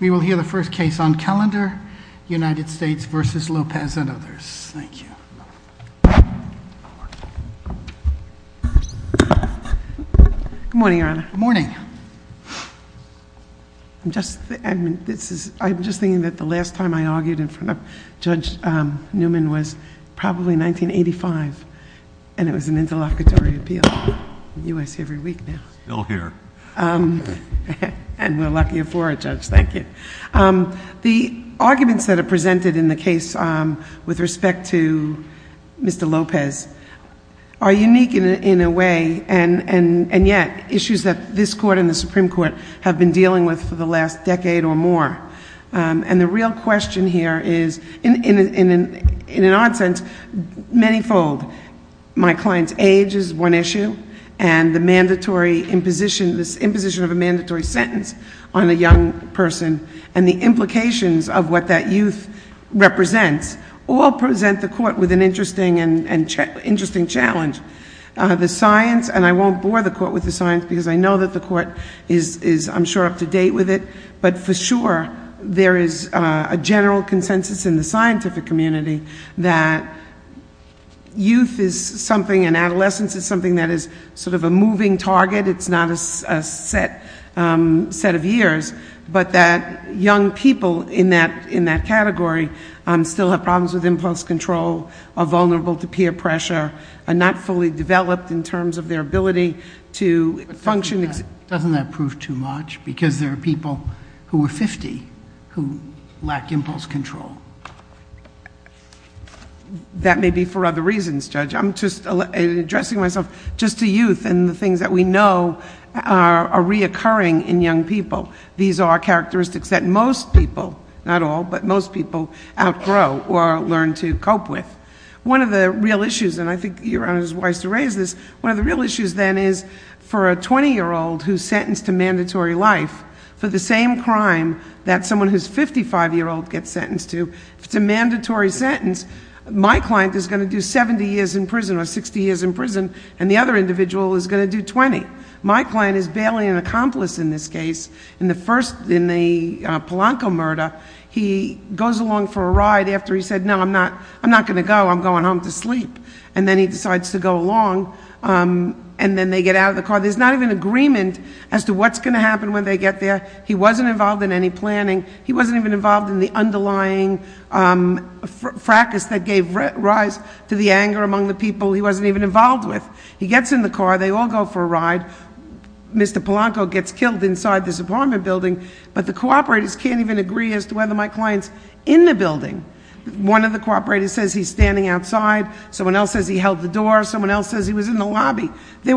We will hear the first case on calendar, United States v. Lopez and others. Thank you. Good morning, your honor. Good morning. I'm just, I mean, this is, I'm just thinking that the last time I argued in front of Judge Newman was probably 1985, and it was an interlocutory appeal, UIC every week now. Still here. And we're lucky you're for it, Judge. Thank you. The arguments that are presented in the case with respect to Mr. Lopez are unique in a way, and yet issues that this court and the Supreme Court have been dealing with for the last decade or more. And the real question here is, in an odd sense, many fold. My client's age is one issue, and the mandatory imposition of a mandatory sentence on a young person and the implications of what that youth represents all present the court with an interesting challenge. The science, and I won't bore the court with the science because I know that the court is, I'm sure, up to date with it, but for sure there is a general consensus in the scientific community that youth is something, and adolescence is something that is sort of a moving target. It's not a set of years, but that young people in that category still have problems with impulse control, are vulnerable to peer pressure, are not fully developed in terms of their ability to function. Doesn't that prove too much? Because there are people who are 50 who lack impulse control. That may be for other reasons, Judge. I'm just addressing myself just to youth and the things that we know are reoccurring in young people. These are characteristics that most people, not all, but most people outgrow or learn to cope with. One of the real issues, and I think Your Honor is wise to raise this, one of the real issues then is for a 20-year-old who's 55-year-old gets sentenced to, if it's a mandatory sentence, my client is going to do 70 years in prison or 60 years in prison, and the other individual is going to do 20. My client is barely an accomplice in this case. In the first, in the Polanco murder, he goes along for a ride after he said, no, I'm not going to go. I'm going home to sleep, and then he decides to go along, and then they get out of the car. There's not even agreement as to what's going to happen when they get there. He wasn't involved in any planning. He wasn't even involved in the underlying fracas that gave rise to the anger among the people he wasn't even involved with. He gets in the car. They all go for a ride. Mr. Polanco gets killed inside this apartment building, but the cooperators can't even agree as to whether my client's in the building. One of the cooperators says he's standing outside. Someone else says he held the door. Someone else says he was in the building. They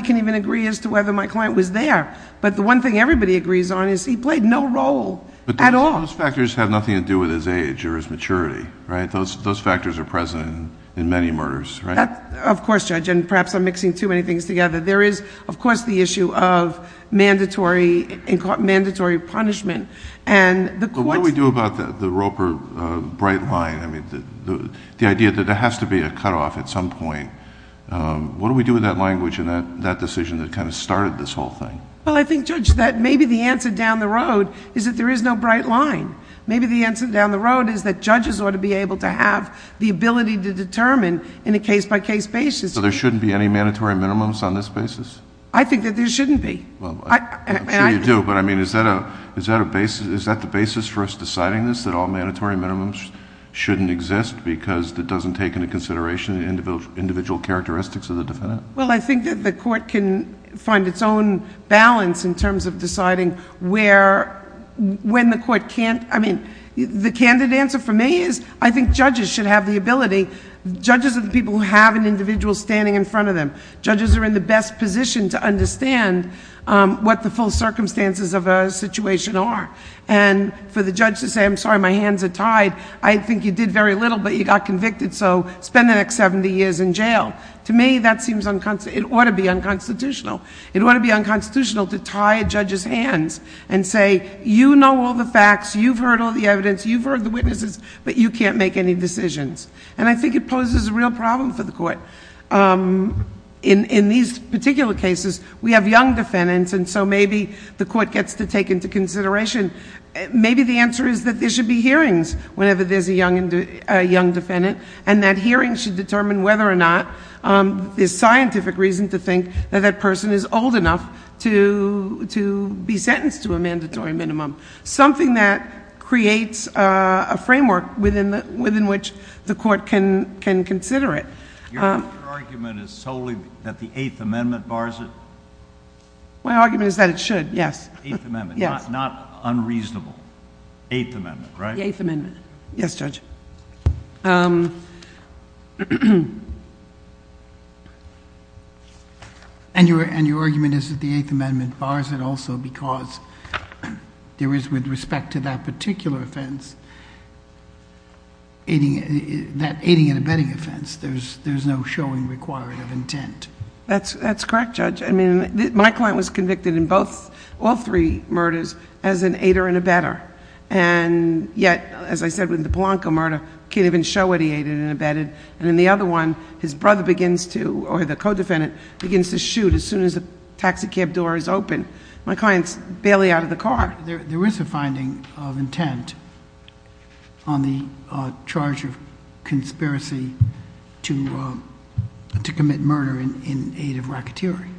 can't even agree as to whether my client was there, but the one thing everybody agrees on is he played no role at all. Those factors have nothing to do with his age or his maturity, right? Those factors are present in many murders, right? Of course, Judge, and perhaps I'm mixing too many things together. There is, of course, the issue of mandatory punishment. What do we do about the Roper bright line, the idea that there has to be a cutoff at some point? What do we do with that language and that decision that kind of started this whole thing? Well, I think, Judge, that maybe the answer down the road is that there is no bright line. Maybe the answer down the road is that judges ought to be able to have the ability to determine in a case-by-case basis. So there shouldn't be any mandatory minimums on this basis? I think that there shouldn't be. Well, I'm sure you do, but I mean, is that the basis for us deciding this, that all mandatory minimums shouldn't exist because it doesn't take into consideration the individual characteristics of the defendant? Well, I think that the court can find its own balance in terms of deciding where... when the court can't... I mean, the candid answer for me is I think judges should have the ability. Judges are the people who have an individual standing in front of them. Judges are in the best position to understand what the full circumstances of a situation are. And for the judge to say, I'm sorry, my hands are tied, I think you did very little, but you got convicted. So spend the next seventy years in jail. To me, that seems... it ought to be unconstitutional. It ought to be unconstitutional to tie a judge's hands and say, you know all the facts, you've heard all the evidence, you've heard the witnesses, but you can't make any decisions. And I think it poses a real problem for the court. In these particular cases, we have young defendants, and so maybe the court gets to take into consideration... maybe the answer is that there should be hearings whenever there's a young defendant, and that hearing should determine whether or not there's scientific reason to think that that person is old enough to be sentenced to a mandatory minimum. Something that creates a framework within which the court can consider it. Your argument is solely that the Eighth Amendment bars it? My argument is that it should, yes. Eighth Amendment, not unreasonable. Eighth Amendment, right? The Eighth Amendment. Yes, Judge. And your argument is that the Eighth Amendment bars it also because there is, with respect to that particular offense, that aiding and abetting offense, there's no showing required of intent? That's correct, Judge. I mean, my client was convicted in both, all three murders, as an aider and abetter. And yet, as I said with the Polanco murder, can't even show what he aided and abetted. And in the other one, his brother begins to, or the co-defendant, begins to shoot as soon as the taxi cab door is open. My client's barely out of the car. There is a finding of intent on the charge of conspiracy to commit murder in aid of racketeering.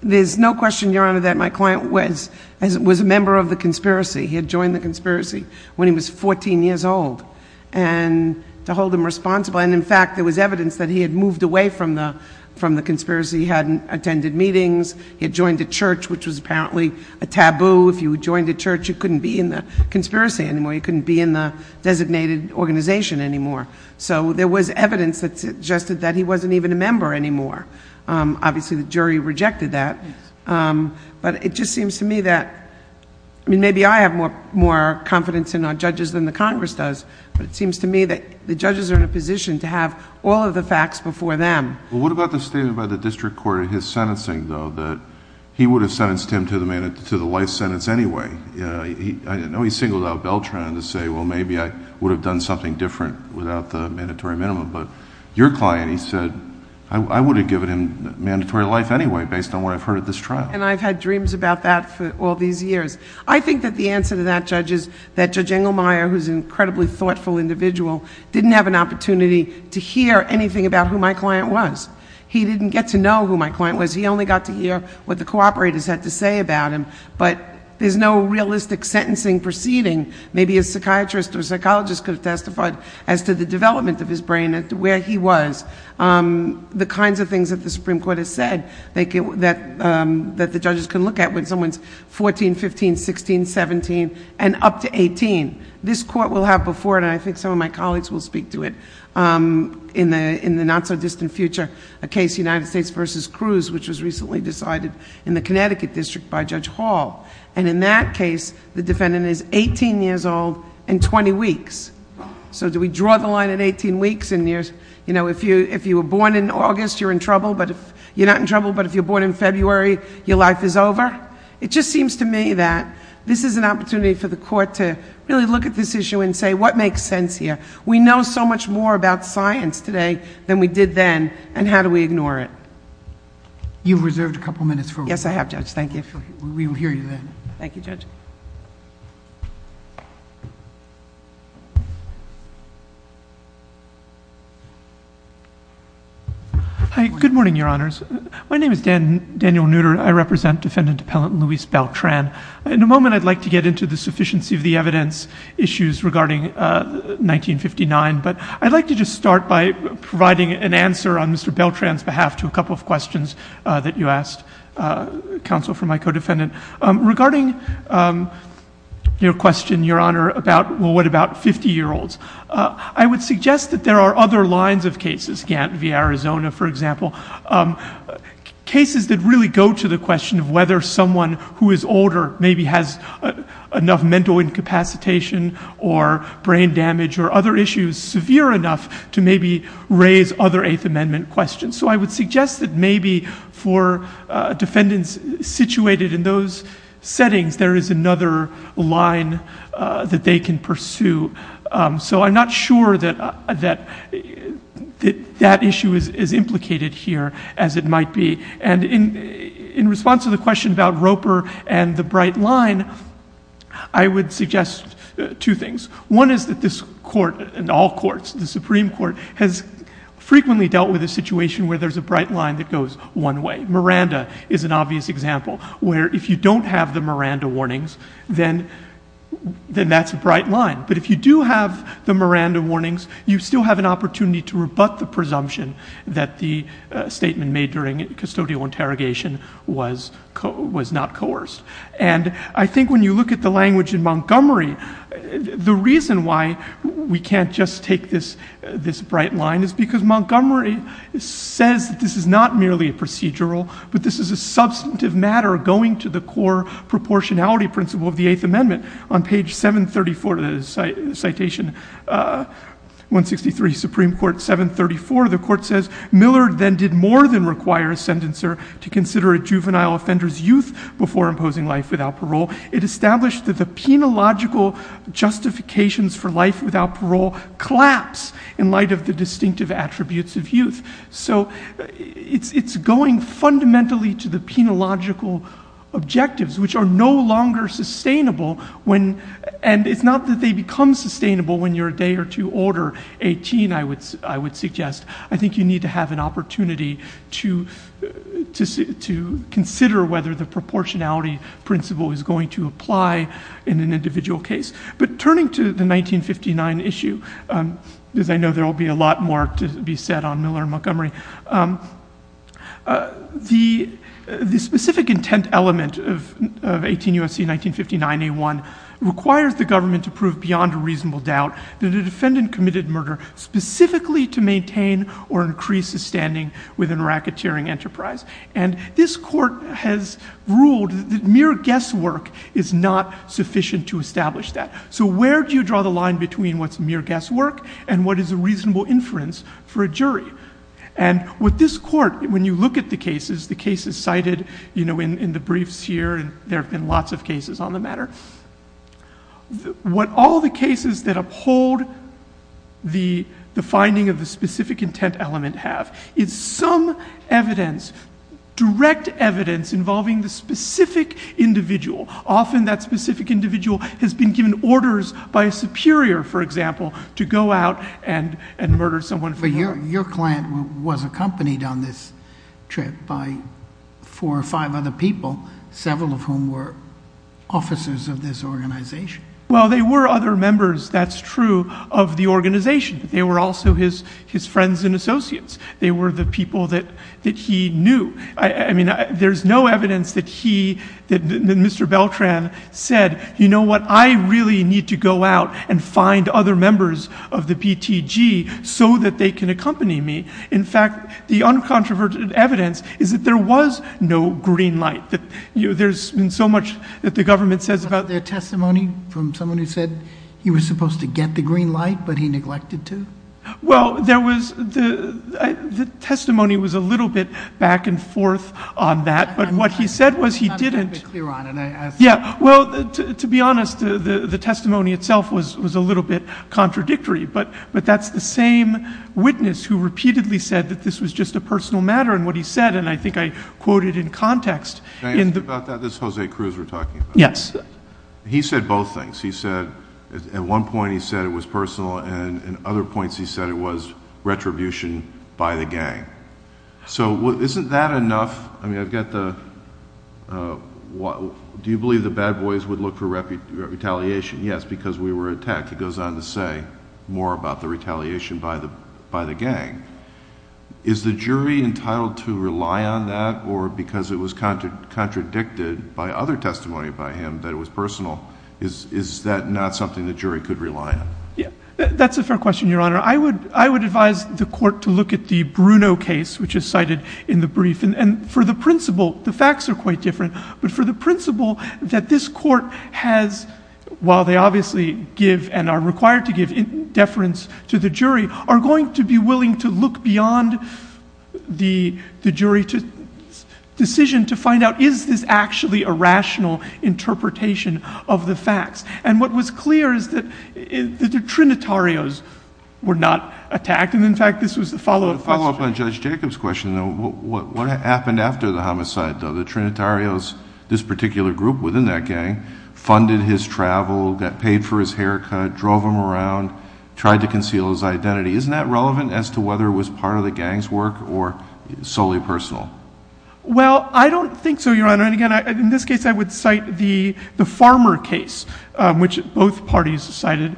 There's no question, Your Honor, that my client was a member of the conspiracy. He had joined the conspiracy when he was 14 years old, and to hold him responsible. And in fact, there was evidence that he had moved away from the conspiracy. He hadn't attended meetings. He had joined a church, which was apparently a taboo. If you joined a church, you couldn't be in the conspiracy anymore. You couldn't be in the designated organization anymore. So there was evidence that suggested that he wasn't even a member anymore. Obviously, the jury rejected that. But it just seems to me that, I mean, maybe I have more confidence in our judges than the Congress does, but it seems to me that the judges are in a position to have all of the facts before them. Well, what about the statement by the district court in his sentencing, though, that he would have sentenced him to the life sentence anyway? I know he singled out Beltran to say, well, maybe I would have done something different without the mandatory minimum. But your client, he said, I would have given him mandatory life anyway, based on what I've heard at this trial. And I've had dreams about that for all these years. I think that the answer to that, Judge, is that Judge Engelmeyer, who's an incredibly thoughtful individual, didn't have an opportunity to hear anything about who my client was. He didn't get to know who my client was. He only got to hear what the cooperators had to say about him. But there's no realistic sentencing proceeding. Maybe a psychiatrist or psychologist could have testified as to the development of his brain and where he was. The kinds of things that the Supreme Court has said that the judges can look at when someone's 14, 15, 16, 17, and up to 18. This court will have before it, and I think some of my in the not so distant future, a case United States versus Cruz, which was recently decided in the Connecticut district by Judge Hall. And in that case, the defendant is 18 years old and 20 weeks. So do we draw the line at 18 weeks? And if you were born in August, you're in trouble. But if you're not in trouble, but if you're born in February, your life is over. It just seems to me that this is an opportunity for the court to really look at this issue and say, what makes sense here? We know so much more about science today than we did then, and how do we ignore it? You've reserved a couple of minutes for... Yes, I have, Judge. Thank you. We will hear you then. Thank you, Judge. Hi. Good morning, Your Honors. My name is Daniel Nooter. I represent Defendant Appellant Luis Beltran. In a moment, I'd like to get into the sufficiency of the evidence issues regarding 1959, but I'd like to just start by providing an answer on Mr. Beltran's behalf to a couple of questions that you asked, counsel, for my co-defendant. Regarding your question, Your Honor, about what about 50-year-olds, I would suggest that there are other lines of cases, Gant v. Arizona, for example, cases that really go to the question whether someone who is older maybe has enough mental incapacitation or brain damage or other issues severe enough to maybe raise other Eighth Amendment questions. I would suggest that maybe for defendants situated in those settings, there is another line that they can pursue. I'm not sure that that issue is implicated here as it might be. In response to the question about Roper and the bright line, I would suggest two things. One is that this Court and all Courts, the Supreme Court, has frequently dealt with a situation where there's a bright line that goes one way. Miranda is an obvious example, where if you don't have the Miranda warnings, then that's a bright line. But if you do have the Miranda warnings, you still have an opportunity to rebut the presumption that the statement made during custodial interrogation was not coerced. I think when you look at the language in Montgomery, the reason why we can't just take this bright line is because Montgomery says that this is not merely a procedural, but this is a substantive matter going to the core proportionality principle of the Eighth Amendment. On page 734 of citation 163, Supreme Court 734, the Court says, Miller then did more than require a sentencer to consider a juvenile offender's youth before imposing life without parole. It established that the penological justifications for life without parole collapse in light of the distinctive attributes of youth. So it's going fundamentally to the penological objectives, which are no longer sustainable when, and it's not that they become sustainable when you're a day or two older, 18, I would suggest. I think you need to have an opportunity to consider whether the proportionality principle is going to apply in an individual case. But turning to the 1959 issue, as I know there will be a lot more to be said on Miller and Montgomery, the specific intent element of 18 U.S.C. 1959 A1 requires the government to prove beyond a reasonable doubt that a defendant committed murder specifically to maintain or increase his standing within a racketeering enterprise. And this court has ruled that mere guesswork is not sufficient to establish that. So where do you draw the line between what's mere guesswork and what is a reasonable inference for a jury? And with this court, when you look at the cases, the cases cited in the briefs here, and there have been lots of cases on the matter, what all the cases that uphold the finding of the specific intent element have is some evidence, direct evidence involving the specific individual. Often that specific individual has been given orders by a superior, for example, to go out and murder someone. But your client was accompanied on this trip by four or five other people, several of whom were officers of this organization. Well, they were other members, that's true, of the organization. They were also his friends and associates. They were the people that he knew. I mean, there's no evidence that he, Mr. Beltran said, you know what, I really need to go out and find other members of the PTG so that they can accompany me. In fact, the uncontroverted evidence is that there was no green light. There's been so much that the government says about their testimony from someone who said he was supposed to get the green light, but he neglected to. Well, the testimony was a little bit back and forth on that. But what he said was he didn't. Well, to be honest, the testimony itself was a little bit contradictory. But that's the same witness who repeatedly said that this was just a personal matter and what he said, and I think I quoted in context. Can I ask you about that? This is Jose Cruz we're talking about. Yes. He said both things. He said at one point he said it was personal, and in other points he said it retribution by the gang. So isn't that enough? I mean, I've got the, do you believe the bad boys would look for retaliation? Yes, because we were attacked. He goes on to say more about the retaliation by the gang. Is the jury entitled to rely on that, or because it was contradicted by other testimony by him that it was personal, is that not something the jury could rely on? Yeah, that's a fair question, Your Honor. I would advise the court to look at the Bruno case, which is cited in the brief. And for the principle, the facts are quite different, but for the principle that this court has, while they obviously give and are required to give deference to the jury, are going to be willing to look beyond the jury decision to find out, is this actually a rational interpretation of the facts? And what was clear is that the Trinitarios were not attacked, and in fact this was the follow-up question. To follow up on Judge Jacob's question, what happened after the homicide, though? The Trinitarios, this particular group within that gang, funded his travel, got paid for his haircut, drove him around, tried to conceal his identity. Isn't that relevant as to whether it was part of the gang's work or solely personal? Well, I don't think so, Your Honor. And again, in this case, I would cite the farmer case, which both parties cited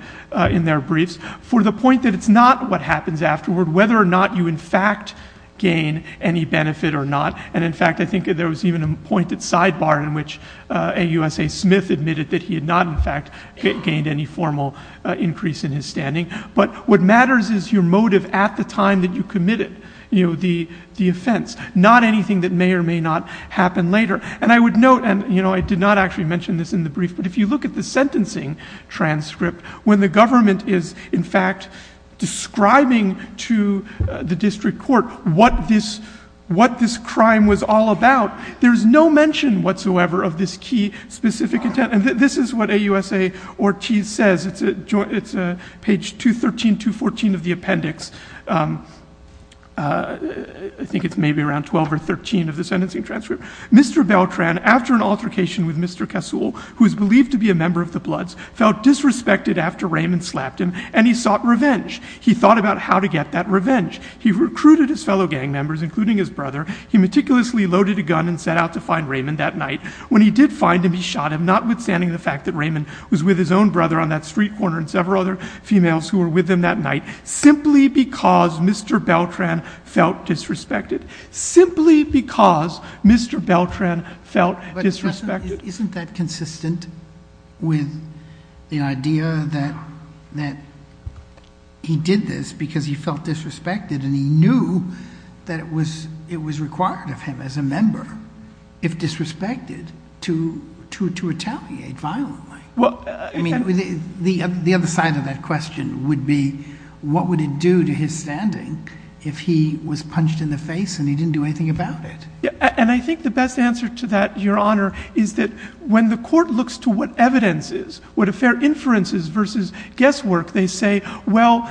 in their briefs, for the point that it's not what happens afterward, whether or not you in fact gain any benefit or not. And in fact, I think there was even a pointed sidebar in which AUSA Smith admitted that he had not in fact gained any formal increase in his standing. But what matters is your motive at the time that you committed the offense, not anything that may or may not happen later. And I would note, and I did not actually mention this in the brief, but if you look at the sentencing transcript, when the government is in fact describing to the district court what this crime was all about, there's no mention whatsoever of this key specific intent. And this is what AUSA Ortiz says. It's page 213, 214 of the appendix. I think it's maybe around 12 or 13 of the sentencing transcript. Mr. Beltran, after an altercation with Mr. Kasul, who is believed to be a member of the Bloods, felt disrespected after Raymond slapped him, and he sought revenge. He thought about how to get that revenge. He recruited his fellow gang members, including his brother. He meticulously loaded a gun and set out to find Raymond that night. When he did find him, he shot him, notwithstanding the fact that Raymond was with his own brother on that street corner and several other females who were with him that night, simply because Mr. Beltran felt disrespected. Simply because Mr. Beltran felt disrespected. Isn't that consistent with the idea that he did this because he felt disrespected and he knew that it was required of him as a member, if disrespected, to retaliate violently? I mean, the other side of that question would be, what would it do to his standing if he was punched in the face and he didn't do anything about it? And I think the best answer to that, Your Honor, is that when the court looks to what evidence is, what a fair inference is versus guesswork, they say, well,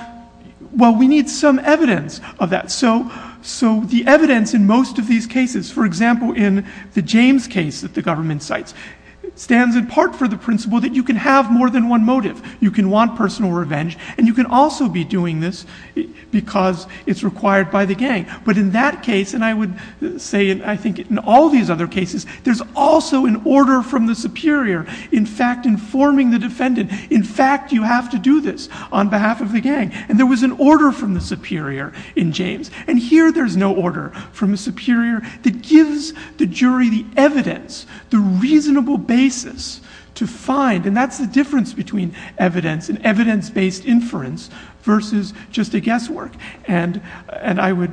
we need some evidence of that. So the evidence in most of these cases, for example, in the James case that the government cites, stands in part for the principle that you can have more than one motive. You can want personal revenge and you can also be doing this because it's required by the gang. But in that case, and I would say I think in all these other cases, there's also an order from the superior, in fact, informing the defendant, in fact, you have to do this on behalf of the gang. And there was an order from the superior in James. And here there's no order from the superior that gives the jury the evidence, the reasonable basis to find. And that's the difference between evidence and evidence-based inference versus just a guesswork. And I would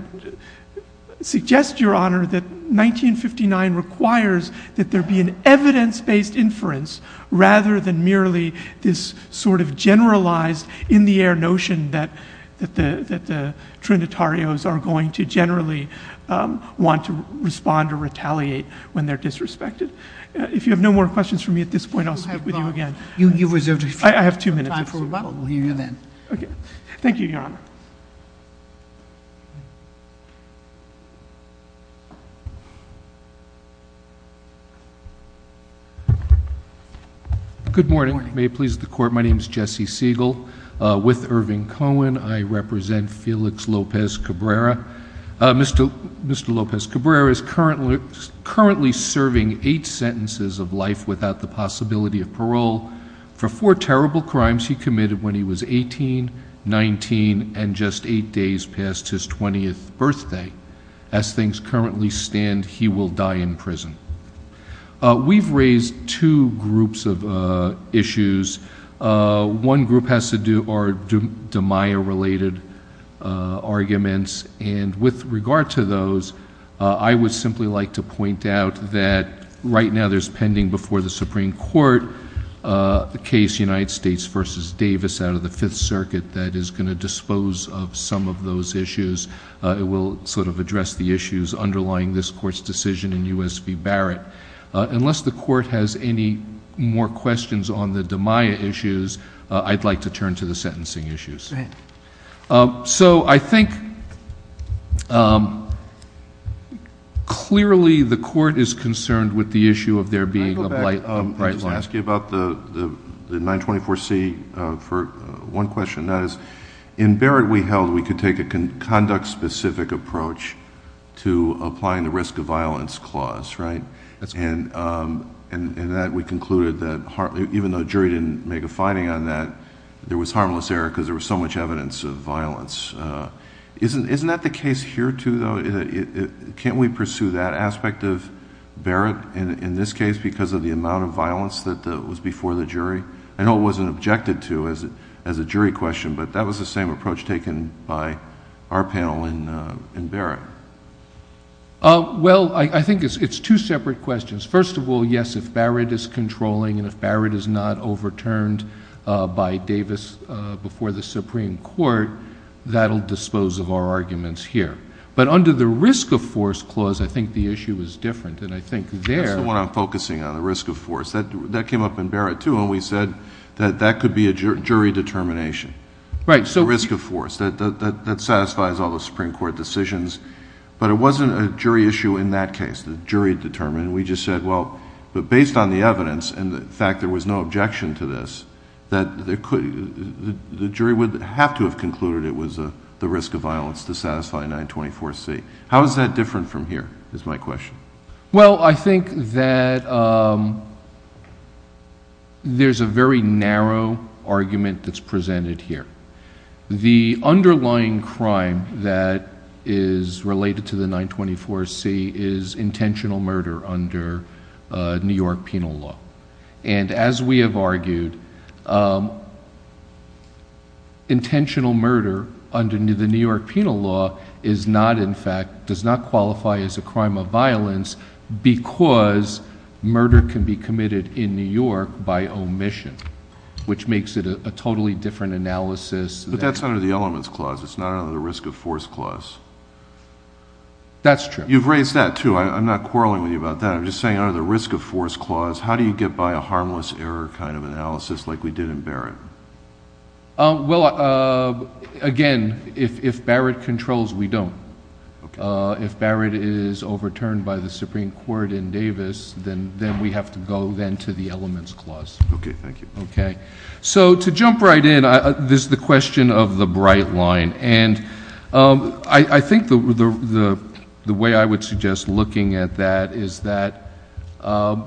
suggest, Your Honor, that 1959 requires that there be an evidence-based inference rather than merely this sort of generalized in the air notion that the Trinitarios are going to generally want to respond or retaliate when they're disrespected. If you have no more questions for me at this point, I'll speak with you again. I have two minutes. We'll hear you then. Okay. Thank you, Your Honor. Good morning. May it please the Court. My name is Jesse Siegel with Irving Cohen. I represent Felix Lopez Cabrera. Mr. Lopez Cabrera is currently serving eight sentences of life without the possibility of parole for four terrible crimes he committed when he was 18, 19, and just eight days past his 20th birthday. As things currently stand, he will die in prison. We've raised two groups of issues. One group has to do are Damiah-related arguments. And with regard to those, I would simply like to point out that right now there's pending before the Supreme Court the case United States v. Davis out of the Fifth Circuit that is going to dispose of some of those issues. It will sort of address the issues underlying this Court's decision in U.S. v. Barrett. Unless the Court has any more questions on the Damiah issues, I'd like to turn to the sentencing issues. Go ahead. So I think clearly the Court is concerned with the issue of there being a bright line. Can I go back and just ask you about the 924C for one question? That is, in Barrett we held we could take a conduct-specific approach to applying the risk of violence clause, right? And that we concluded that even though the jury didn't make a finding on that, there was harmless error because there was so much evidence of violence. Isn't that the case here too, though? Can't we pursue that aspect of Barrett in this case because of the amount of violence that was before the jury? I know it wasn't objected to as a jury question, but that was the same approach taken by our panel in Barrett. Well, I think it's two separate questions. First of all, yes, if Barrett is controlling and if Barrett is not overturned by Davis before the Supreme Court, that'll dispose of our arguments here. But under the risk of force clause, I think the issue is different. And I think there— That's the one I'm focusing on, the risk of force. That came up in Barrett too, and we said that that could be a jury determination, the risk of force, that satisfies all the Supreme Court decisions. But it wasn't a jury issue in that case, the jury determined. We just said, well, but based on the evidence and the fact there was no objection to this, that the jury would have to have concluded it was the risk of violence to satisfy 924C. How is that different from here, is my question. Well, I think that there's a very narrow argument that's presented here. The underlying crime that is related to the 924C is intentional murder under New York penal law. And as we have argued, intentional murder under the New York penal law is not, in fact, does not qualify as a crime of violence because murder can be committed in New York by omission, which makes it a totally different analysis. But that's under the elements clause. It's not under the risk of force clause. That's true. You've raised that too. I'm not quarreling with you about that. I'm just saying under the risk of force clause, how do you get by a harmless error kind of analysis like we did in Barrett? Well, again, if Barrett controls, we don't. If Barrett is overturned by the Supreme Court in Davis, then we have to go then to the elements clause. Okay. Thank you. Okay. So to jump right in, this is the question of the bright line. And I think the way I would suggest looking at that is that one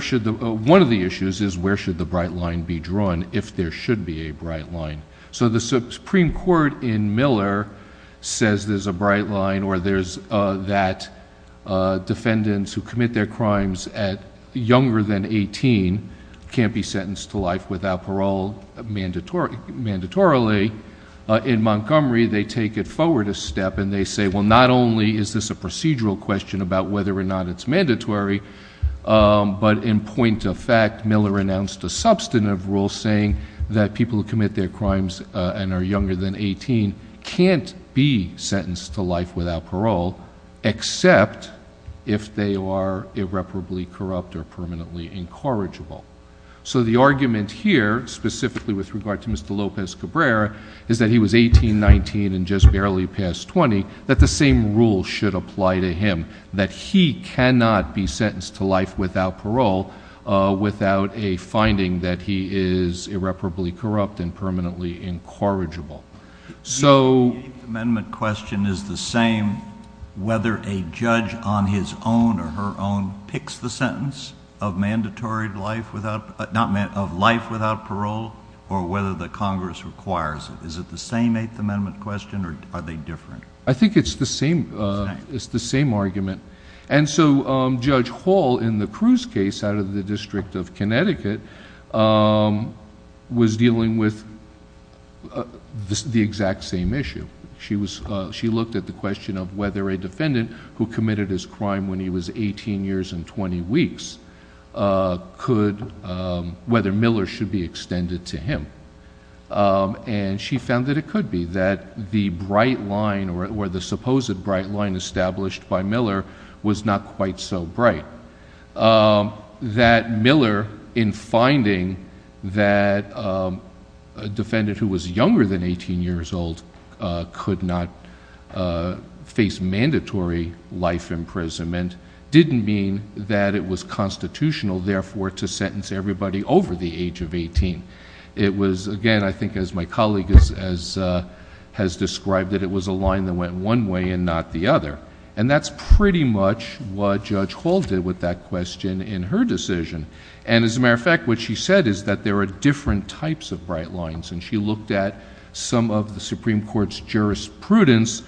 of the issues is where should the bright line be drawn if there should be a bright line? So the Supreme Court in Miller says there's bright line or there's that defendants who commit their crimes at younger than 18 can't be sentenced to life without parole mandatorily. In Montgomery, they take it forward a step and they say, well, not only is this a procedural question about whether or not it's mandatory, but in point of fact, Miller announced a substantive rule saying that people who and are younger than 18 can't be sentenced to life without parole, except if they are irreparably corrupt or permanently incorrigible. So the argument here specifically with regard to Mr. Lopez Cabrera is that he was 18, 19, and just barely past 20, that the same rule should apply to him, that he cannot be sentenced to life without parole without a finding that he is incorrigible. So... The 8th Amendment question is the same whether a judge on his own or her own picks the sentence of life without parole or whether the Congress requires it. Is it the same 8th Amendment question or are they different? I think it's the same argument. And so Judge Hall in the Cruz case out of the District of Connecticut was dealing with the exact same issue. She looked at the question of whether a defendant who committed his crime when he was 18 years and 20 weeks, whether Miller should be extended to him. And she found that it could be that the bright line or the supposed bright line established by Miller was not quite so bright. That Miller in finding that a defendant who was younger than 18 years old could not face mandatory life imprisonment didn't mean that it was constitutional, therefore, to sentence everybody over the age of 18. It was, again, I think as my colleague has described, that it was a line that went one way and not the other. And that's pretty much what Judge Hall did with that question in her decision. And as a matter of fact, what she said is that there are different types of bright lines. And she looked at some of the Supreme Court's jurisprudence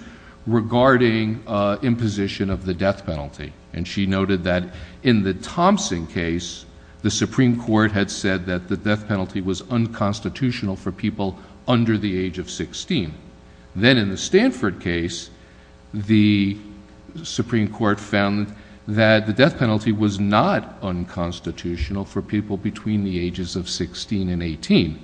regarding imposition of the death penalty. And she noted that in the Thompson case, the Supreme Court had said that death penalty was unconstitutional for people under the age of 16. Then in the Stanford case, the Supreme Court found that the death penalty was not unconstitutional for people between the ages of 16 and 18.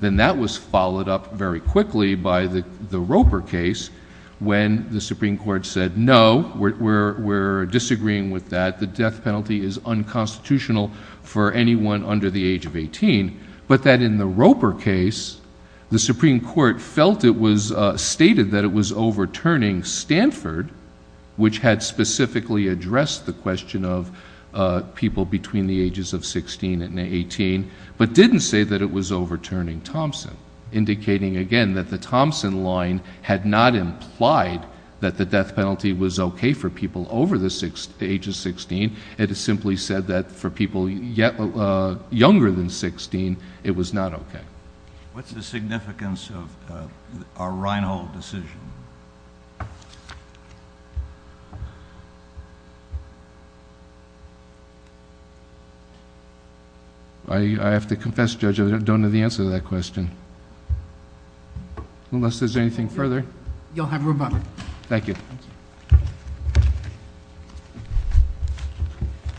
Then that was followed up very quickly by the Roper case when the Supreme Court said, no, we're disagreeing with that. The death penalty is unconstitutional for anyone under the age of 18. But that in the Roper case, the Supreme Court felt it was stated that it was overturning Stanford, which had specifically addressed the question of people between the ages of 16 and 18, but didn't say that it was overturning Thompson. Indicating, again, that the Thompson line had not implied that the death penalty was okay for people over the age of 16. It simply said that for people younger than 16, it was not okay. What's the significance of a Reinhold decision? I have to confess, Judge, I don't know the answer to that question. Unless there's anything further. You'll have a rebuttal. Thank you.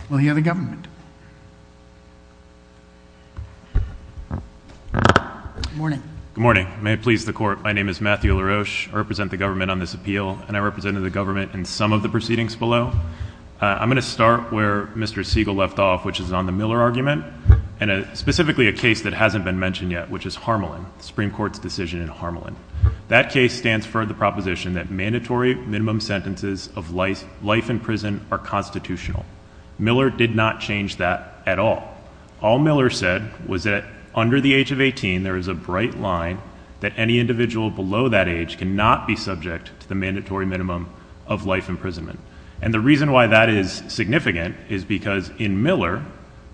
We'll hear the government. Good morning. Good morning. May it please the Court. My name is Matthew LaRoche. I represent the government on this appeal, and I represented the government in some of the proceedings below. I'm going to start where Mr. Siegel left off, which is on the Miller argument, and specifically a case that hasn't been mentioned yet, which is Harmelin, the Supreme Court's decision in Harmelin. That case stands for the proposition that mandatory minimum sentences of life in prison are constitutional. Miller did not change that at all. All Miller said was that under the age of 18, there is a bright line that any individual below that age cannot be subject to the mandatory minimum of life imprisonment. And the reason why that is significant is because in Miller,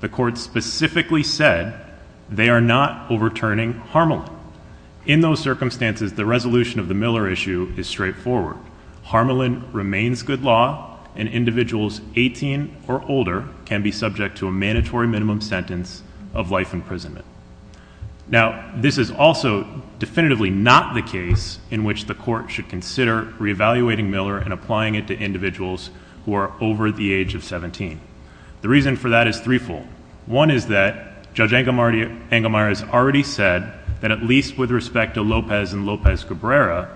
the Court specifically said they are not overturning Harmelin. In those circumstances, the resolution of the Miller issue is straightforward. Harmelin remains good law, and individuals 18 or older can be subject to a mandatory minimum sentence of life imprisonment. Now, this is also definitively not the case in which the Court should consider reevaluating Miller and applying it to individuals who are over the age of 17. The reason for that is threefold. One is that Judge Engelmeyer has already said that at least with respect to Lopez and Lopez-Gabrera,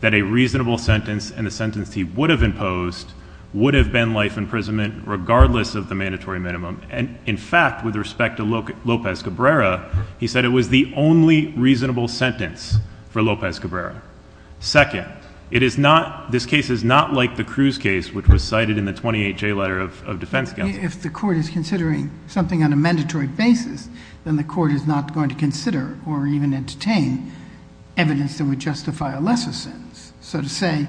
that a reasonable sentence and the sentence he would have imposed would have been life imprisonment regardless of the mandatory minimum. And in fact, with respect to Lopez-Gabrera, he said it was the only reasonable sentence for Lopez-Gabrera. Second, it is not, this case is not like the Cruz case which was cited in the 28J letter of defense counsel. If the Court is considering something on a mandatory basis, then the Court is not going to consider or even entertain evidence that would justify a lesser sentence. So to say,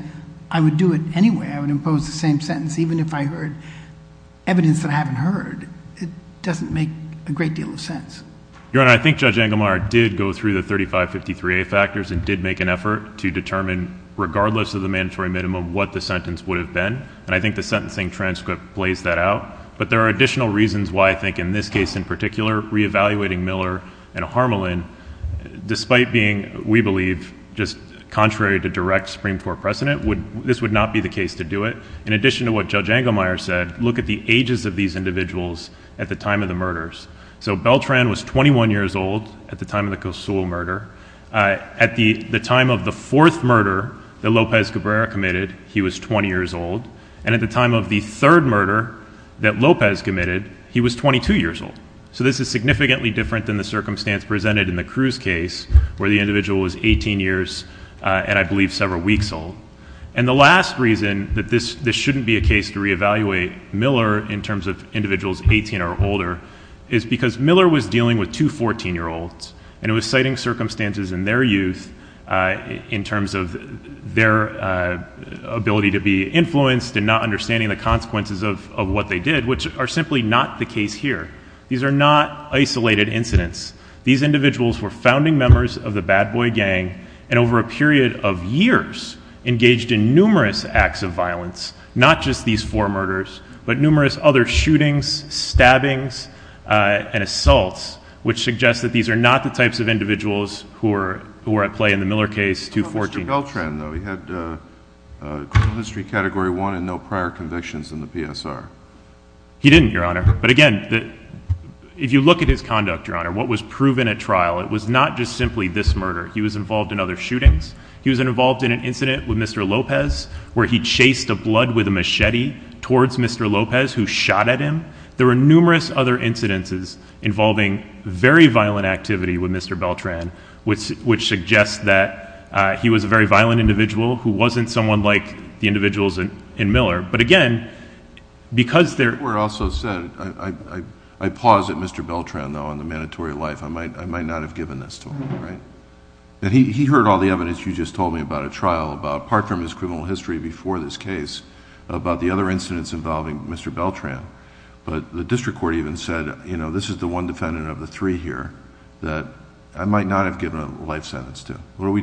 I would do it anyway, I would impose the same sentence even if I heard evidence that I haven't heard, it doesn't make a great deal of sense. Your Honor, I think Judge Engelmeyer did look at the 23A factors and did make an effort to determine, regardless of the mandatory minimum, what the sentence would have been. And I think the sentencing transcript plays that out. But there are additional reasons why I think in this case in particular, reevaluating Miller and Harmelin, despite being, we believe, just contrary to direct Supreme Court precedent, this would not be the case to do it. In addition to what Judge Engelmeyer said, look at the ages of these individuals at the time of the murders. So Beltran was 21 years old at the time of the fourth murder that Lopez Cabrera committed. He was 20 years old. And at the time of the third murder that Lopez committed, he was 22 years old. So this is significantly different than the circumstance presented in the Cruz case where the individual was 18 years and I believe several weeks old. And the last reason that this shouldn't be a case to reevaluate Miller in terms of individuals 18 or older is because Miller was dealing with two 14-year-olds and was citing circumstances in their youth in terms of their ability to be influenced and not understanding the consequences of what they did, which are simply not the case here. These are not isolated incidents. These individuals were founding members of the bad boy gang and over a period of years engaged in numerous acts of violence, not just these four murders, but numerous other shootings, stabbings, and assaults, which suggests that these are not the types of individuals who were at play in the Miller case, two 14-year-olds. Mr. Beltran, though, he had criminal history category one and no prior convictions in the PSR. He didn't, Your Honor. But again, if you look at his conduct, Your Honor, what was proven at trial, it was not just simply this murder. He was involved in other shootings. He was involved in an incident with Mr. Lopez where he chased a blood with a gun. There were numerous other incidences involving very violent activity with Mr. Beltran, which suggests that he was a very violent individual who wasn't someone like the individuals in Miller. But again, because they're- The court also said, I pause at Mr. Beltran, though, on the mandatory life. I might not have given this to him, right? He heard all the evidence you just told me about at trial about part from his criminal history before this case about the other incidents involving Mr. Beltran. But the district court even said, you know, this is the one defendant of the three here that I might not have given a life sentence to. How do we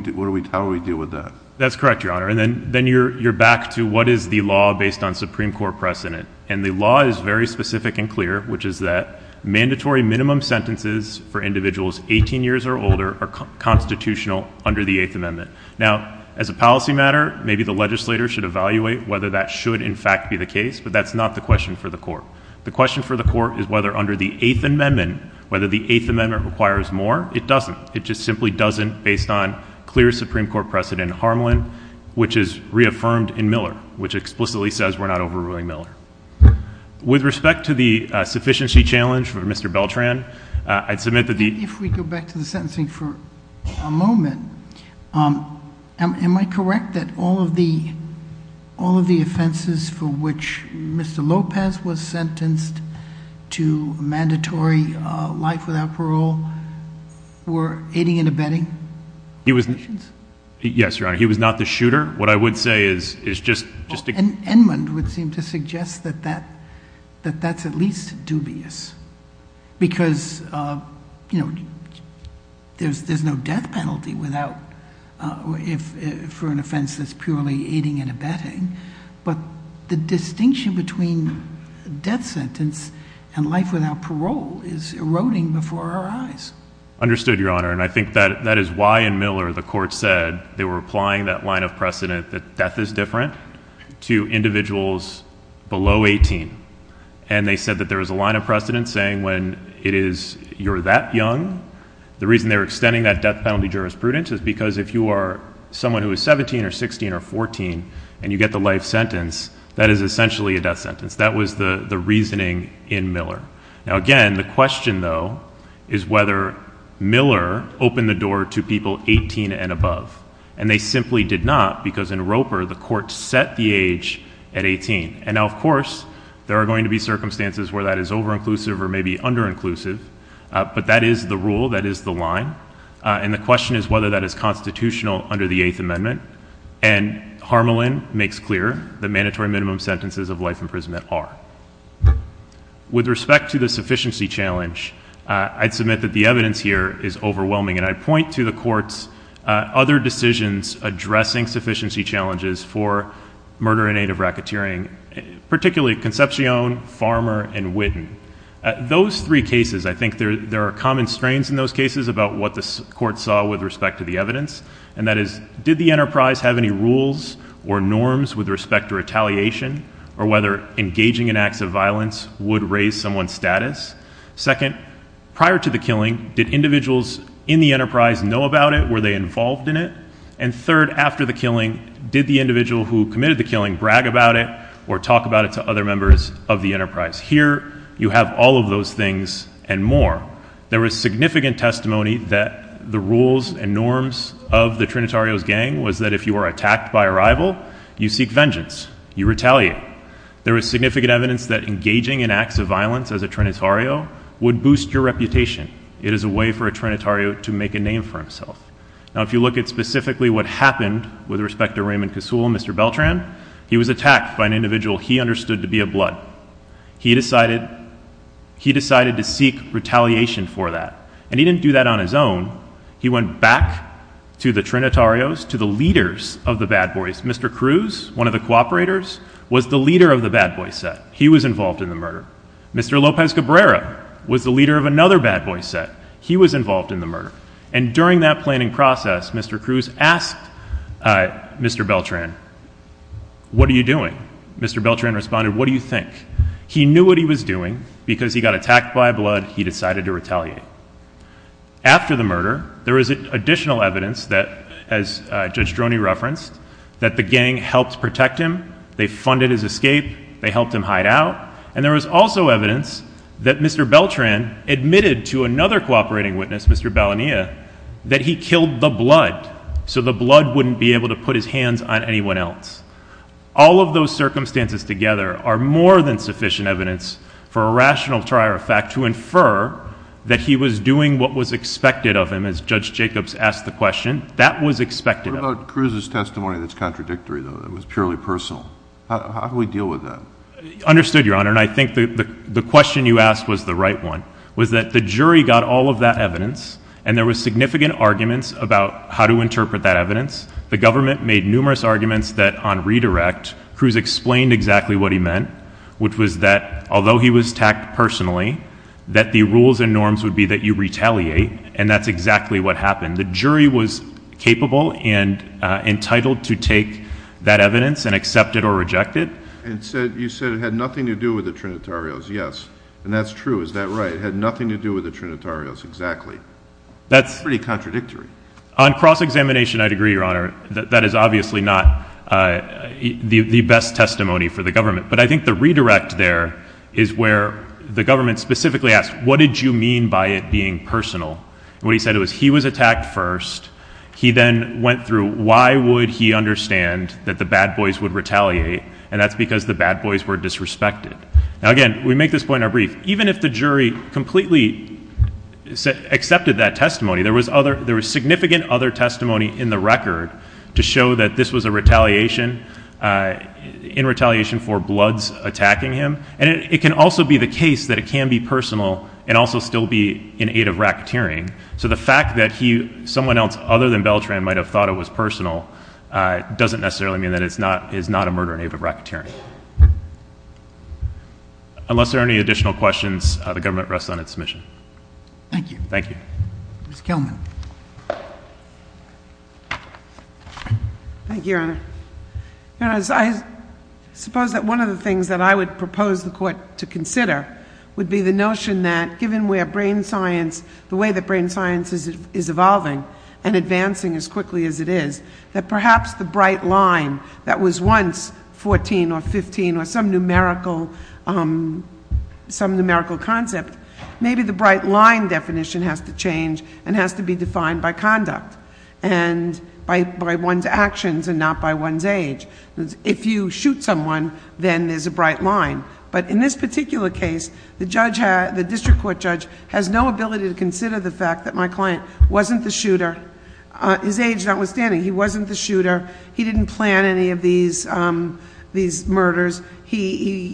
deal with that? That's correct, Your Honor. And then you're back to what is the law based on Supreme Court precedent. And the law is very specific and clear, which is that mandatory minimum sentences for individuals 18 years or older are constitutional under the Eighth Amendment. Now, as a policy matter, maybe the legislator should evaluate whether that should in fact be the case, but that's not the question for the court. The question for the court is whether under the Eighth Amendment, whether the Eighth Amendment requires more. It doesn't. It just simply doesn't based on clear Supreme Court precedent in Harmland, which is reaffirmed in Miller, which explicitly says we're not overruling Miller. With respect to the sufficiency challenge for Mr. Beltran, I'd submit If we go back to the sentencing for a moment, am I correct that all of the all of the offenses for which Mr. Lopez was sentenced to a mandatory life without parole were aiding and abetting? Yes, Your Honor. He was not the shooter. What I would say is just Edmund would seem to suggest that that that that's at least dubious because, you know, there's there's no death penalty without if for an offense that's purely aiding and abetting. But the distinction between death sentence and life without parole is eroding before our eyes. Understood, Your Honor. And I think that that is why in Miller the court said they were applying that line of precedent that death is different to individuals below 18. And they said that there was a line of precedent saying when it is you're that young, the reason they're extending that death penalty jurisprudence is because if you are someone who is 17 or 16 or 14 and you get the life sentence, that is essentially a death sentence. That was the reasoning in Miller. Now, again, the question, though, is whether Miller opened the door to people 18 and above. And they simply did not because in Roper, the court set the age at 18. And of course, there are going to be circumstances where that is over inclusive or maybe under inclusive. But that is the rule. That is the line. And the question is whether that is constitutional under the Eighth Amendment. And Harmelin makes clear the mandatory minimum sentences of life imprisonment are. With respect to the sufficiency challenge, I'd submit that the evidence here is overwhelming. And I point to the court's other decisions addressing sufficiency challenges for murder and aid of racketeering, particularly Concepcion, Farmer, and Witten. Those three cases, I think there are common strains in those cases about what the court saw with respect to the evidence. And that is, did the enterprise have any rules or norms with respect to retaliation or whether engaging in acts of violence would raise someone's status? Second, prior to the killing, did individuals in the enterprise know about it? Were they involved in it? And third, after the killing, did the individual who committed the killing brag about it or talk about it to other members of the enterprise? Here, you have all of those things and more. There was significant testimony that the rules and norms of the Trinitarios gang was that if you were attacked by a rival, you seek vengeance, you retaliate. There was significant evidence that engaging in acts of violence as a Trinitario would boost your reputation. It is a way for a Trinitario to make a name for himself. Now, if you look at specifically what happened with respect to Raymond Kasul and Mr. Beltran, he was attacked by an individual he understood to be a blood. He decided to seek retaliation for that. And he didn't do that on his own. He went back to the Trinitarios, to the leaders of the bad boys. Mr. Cruz, one of the cooperators, was the leader of the bad boy set. He was involved in the murder. Mr. Lopez Cabrera was the leader of another bad boy set. He was involved in the murder. And during that planning process, Mr. Cruz asked Mr. Beltran, what are you doing? Mr. Beltran responded, what do you think? He knew what he was doing because he got attacked by blood. He decided to retaliate. After the murder, there is additional evidence that, as Judge Droney referenced, that the gang helped protect him. They funded his escape. They helped him hide out. And there was also evidence that Mr. Beltran admitted to another cooperating witness, Mr. Balonia, that he killed the blood so the blood wouldn't be able to put his hands on anyone else. All of those circumstances together are more than sufficient evidence for a rational trier of fact to infer that he was doing what was expected of him, as Judge Jacobs asked the question. That was expected. What about Cruz's testimony that's contradictory, though, that was purely personal? How do we deal with that? Understood, Your Honor. And I think the question you asked was the right one, was that the jury got all of that evidence, and there was significant arguments about how to interpret that evidence. The government made numerous arguments that, on redirect, Cruz explained exactly what he meant, which was that, although he was attacked personally, that the rules and norms would be that you retaliate, and that's exactly what happened. The jury was capable and entitled to take that evidence and accept it or reject it. And you said it had nothing to do with the Trinitarios. Yes. And that's true. Is that right? It had nothing to do with the Trinitarios. Exactly. That's pretty contradictory. On cross-examination, I'd agree, Your Honor. That is obviously not the best testimony for the government. But I think the redirect there is where the government specifically asked, what did you mean by it being personal? And what he said was he was attacked first. He then went through, why would he understand that the bad boys would retaliate? And that's because the bad boys were disrespected. Now, again, we make this point in our brief. Even if the jury completely accepted that testimony, there was significant other testimony in the record to show that this was in retaliation for Bloods attacking him. And it can also be the case that it can be personal and also still be in aid of racketeering. So the fact that someone else other than Beltran might have thought it was personal doesn't necessarily mean that it's not a murder in aid of racketeering. Unless there are any additional questions, the government rests on its mission. Thank you. Thank you. Ms. Kelman. Thank you, Your Honor. Your Honor, I suppose that one of the things that I would propose the court to consider would be the notion that, given the way that brain science is evolving and advancing as quickly as it is, that perhaps the bright line that was once 14 or 15 or some definition has to change and has to be defined by conduct and by one's actions and not by one's age. If you shoot someone, then there's a bright line. But in this particular case, the district court judge has no ability to consider the fact that my client wasn't the shooter, his age notwithstanding, he wasn't the shooter. He didn't plan any of these murders. He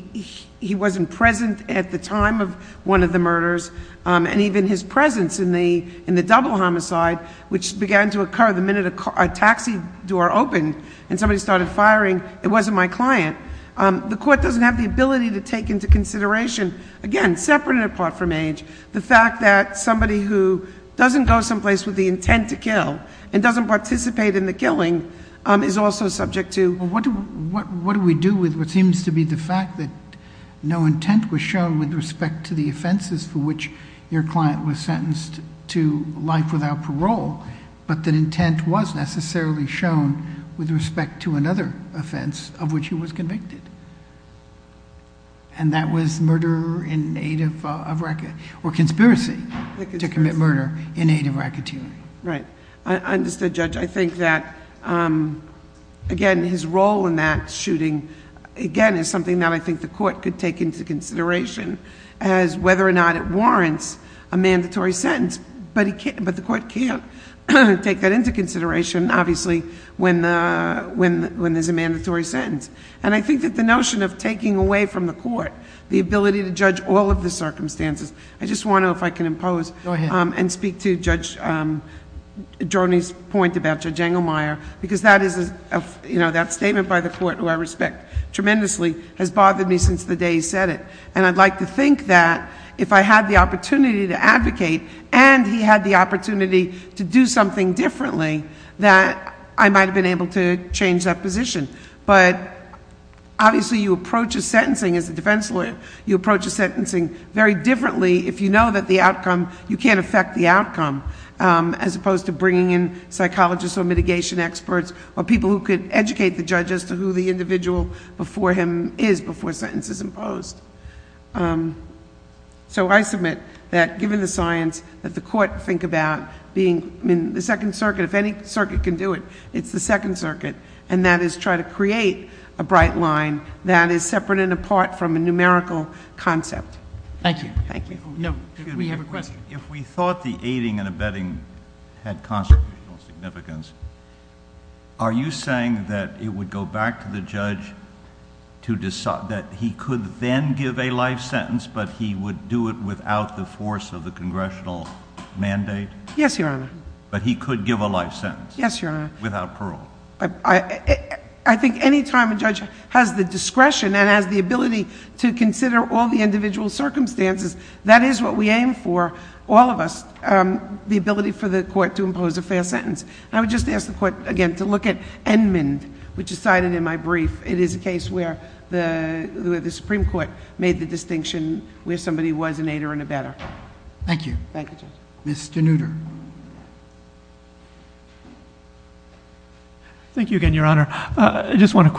wasn't present at the time of one of the murders. And even his presence in the double homicide, which began to occur the minute a taxi door opened and somebody started firing, it wasn't my client. The court doesn't have the ability to take into consideration, again, separate and apart from age, the fact that somebody who doesn't go someplace with the intent to kill and doesn't participate in the killing is also subject to... What do we do with what seems to be the fact that no intent was shown with respect to the offenses for which your client was sentenced to life without parole, but that intent was necessarily shown with respect to another offense of which he was convicted? And that was murder in aid of racketeering or conspiracy to commit murder in aid of racketeering. Right. I understood, Judge. I think that, again, his role in that shooting, again, is something that I think the court could take into consideration as whether or not it warrants a mandatory sentence, but the court can't take that into consideration, obviously, when there's a mandatory sentence. And I think that the notion of taking away from the court the ability to judge all of the circumstances, I just want to, if I can impose and speak to Judge Joni's point about Judge Engelmeyer, because that statement by the court, who I respect tremendously, has bothered me since the day he said it. And I'd like to think that if I had the opportunity to advocate and he had the opportunity to do something differently, that I might have been able to change that position. But obviously, you approach a sentencing as a defense lawyer, you approach a sentencing very differently if you know that the outcome, you can't affect the bringing in psychologists or mitigation experts or people who could educate the judge as to who the individual before him is before a sentence is imposed. So I submit that given the science that the court think about being in the Second Circuit, if any circuit can do it, it's the Second Circuit, and that is try to create a bright line that is separate and apart from a numerical concept. Thank you. Thank you. No, we have a question. If we thought the aiding and abetting had constitutional significance, are you saying that it would go back to the judge to decide that he could then give a life sentence, but he would do it without the force of the congressional mandate? Yes, Your Honor. But he could give a life sentence? Yes, Your Honor. Without parole? I think any time a judge has the discretion and has the ability to consider all individual circumstances, that is what we aim for, all of us, the ability for the court to impose a fair sentence. I would just ask the court again to look at Edmund, which is cited in my brief. It is a case where the Supreme Court made the distinction where somebody was an aider and abetter. Thank you. Thank you, Judge. Mr. Nutter. Thank you again, Your Honor. I just want to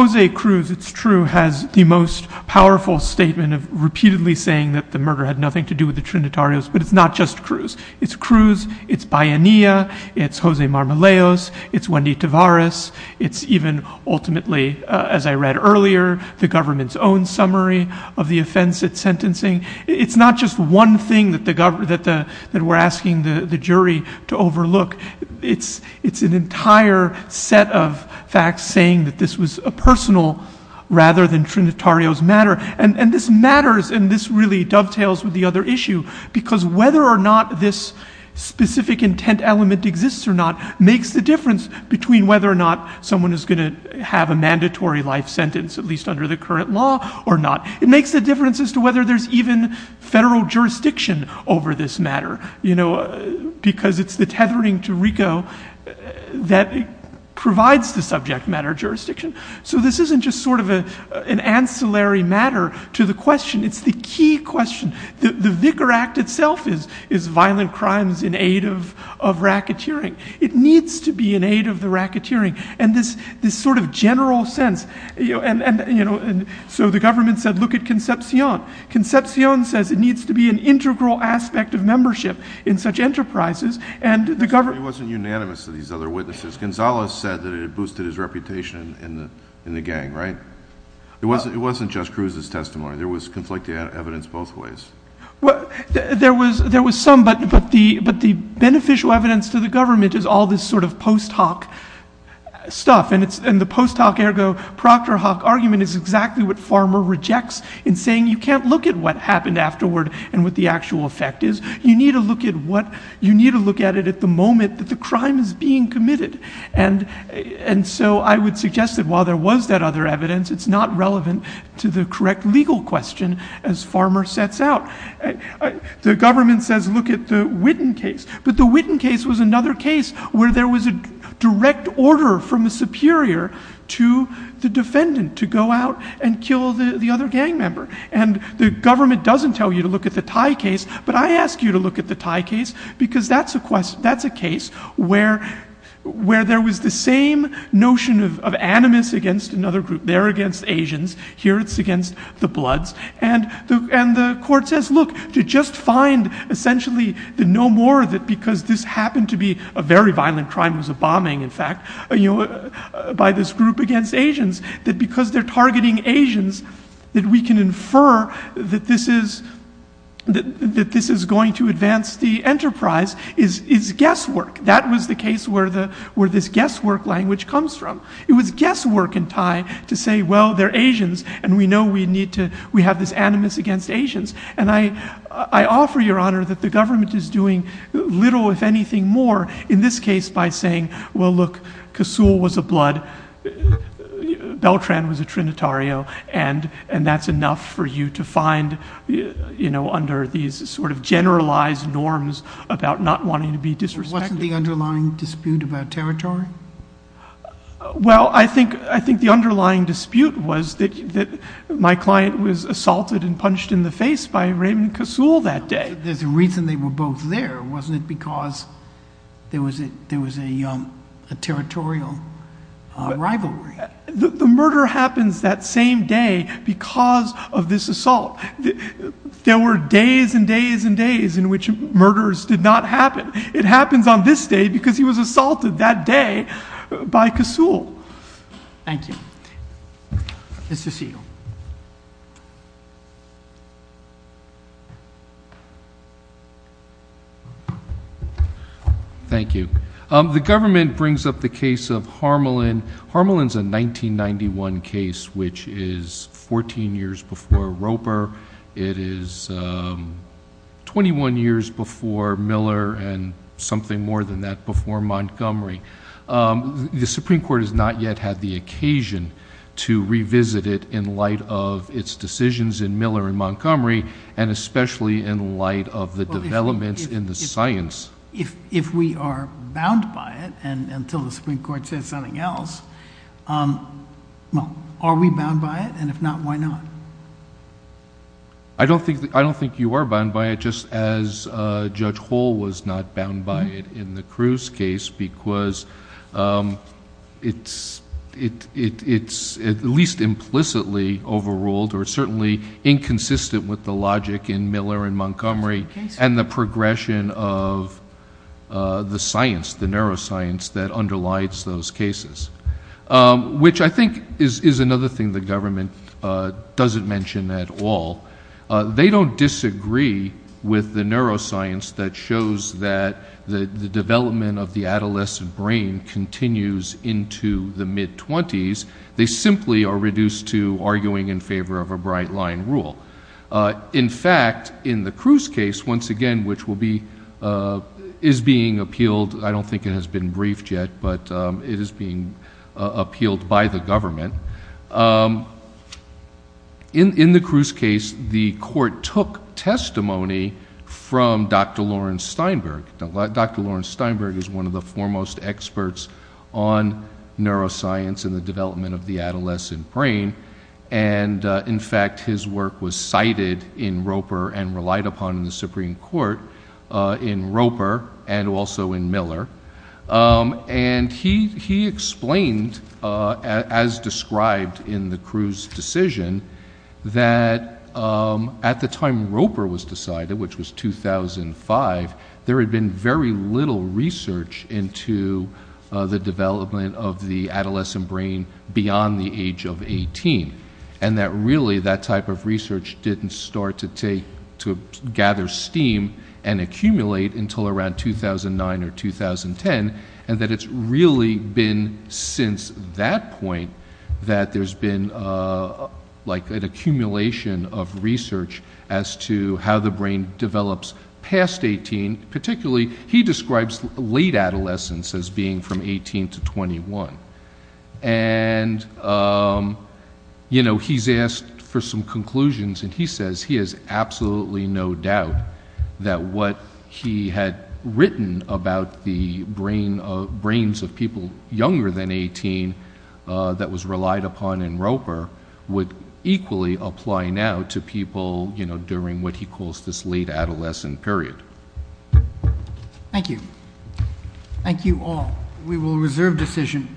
Jose Cruz, it's true, has the most powerful statement of repeatedly saying that the murder had nothing to do with the Trinitarios, but it's not just Cruz. It's Cruz, it's Bayania, it's Jose Marmolejos, it's Wendy Tavares, it's even ultimately, as I read earlier, the government's own summary of the offense it's sentencing. It's not just one thing that we're asking the jury to overlook. It's an entire set of facts saying that this was a personal rather than Trinitarios matter. And this matters, and this really dovetails with the other issue, because whether or not this specific intent element exists or not makes the difference between whether or not someone is going to have a mandatory life sentence, at least under the current law, or not. It makes the difference as to whether there's even federal jurisdiction over this matter, because it's the tethering to RICO that provides the subject matter jurisdiction. So this isn't just sort of an ancillary matter to the question. It's the key question. The Vicar Act itself is violent crimes in aid of racketeering. It needs to be an aid of the racketeering. And this sort of general sense, and so the government said, look at Concepcion. Concepcion says it needs to be an integral aspect of membership in such enterprises, and the government... It wasn't unanimous to these other witnesses. Gonzalez said that it boosted his reputation in the gang, right? It wasn't just Cruz's testimony. There was conflicting evidence both ways. Well, there was some, but the beneficial evidence to the government is all this sort of post hoc stuff, and the post hoc ergo proctor hoc argument is exactly what in saying you can't look at what happened afterward and what the actual effect is. You need to look at what... You need to look at it at the moment that the crime is being committed. And so I would suggest that while there was that other evidence, it's not relevant to the correct legal question as Farmer sets out. The government says, look at the Witten case, but the Witten case was another case where there was a direct order from a superior to the defendant to go out and kill the other gang member. And the government doesn't tell you to look at the Thai case, but I ask you to look at the Thai case because that's a case where there was the same notion of animus against another group. They're against Asians. Here it's against the Bloods. And the court says, look, to just find essentially the no more that because this happened to be a very violent crime, it was that we can infer that this is going to advance the enterprise is guesswork. That was the case where this guesswork language comes from. It was guesswork in Thai to say, well, they're Asians, and we know we have this animus against Asians. And I offer your honor that the government is doing little if anything more in this case by saying, well, look, Kasool was a Blood, Beltran was a Trinitario, and that's enough for you to find under these sort of generalized norms about not wanting to be disrespected. Wasn't the underlying dispute about territory? Well, I think the underlying dispute was that my client was assaulted and punched in the face by Raymond Kasool that day. There's a reason they were both there. Wasn't it because there was a territorial rivalry? The murder happens that same day because of this assault. There were days and days and days in which murders did not happen. It happens on this day The government brings up the case of Harmelin. Harmelin's a 1991 case, which is 14 years before Roper. It is 21 years before Miller and something more than that before Montgomery. The Supreme Court has not yet had the occasion to revisit it in light of its decisions in Miller and Montgomery. Are we bound by it? If not, why not? I don't think you are bound by it just as Judge Hall was not bound by it in the Cruz case because it's at least implicitly overruled or certainly inconsistent with the logic in Miller and the neuroscience that underlies those cases, which I think is another thing the government doesn't mention at all. They don't disagree with the neuroscience that shows that the development of the adolescent brain continues into the mid-20s. They simply are reduced to arguing in favor of a bright line rule. In fact, in the Cruz case, once again, which is being appealed, I don't think it has been briefed yet, but it is being appealed by the government. In the Cruz case, the court took testimony from Dr. Lawrence Steinberg. Dr. Lawrence Steinberg is one of the foremost experts on neuroscience and the development of the in Roper and also in Miller. He explained, as described in the Cruz decision, that at the time Roper was decided, which was 2005, there had been very little research into the development of the adolescent brain beyond the age of 18. Really, that type of research didn't start to gather steam and accumulate until around 2009 or 2010, and that it's really been since that point that there's been an accumulation of research as to how the brain develops past 18. Particularly, he describes late adolescence as being from 18 to 21. He's asked for some conclusions, and he says he has absolutely no doubt that what he had written about the brains of people younger than 18 that was relied upon in Roper would equally apply now to people during what he calls this late adolescent period. Thank you. Thank you all. We will reserve decision.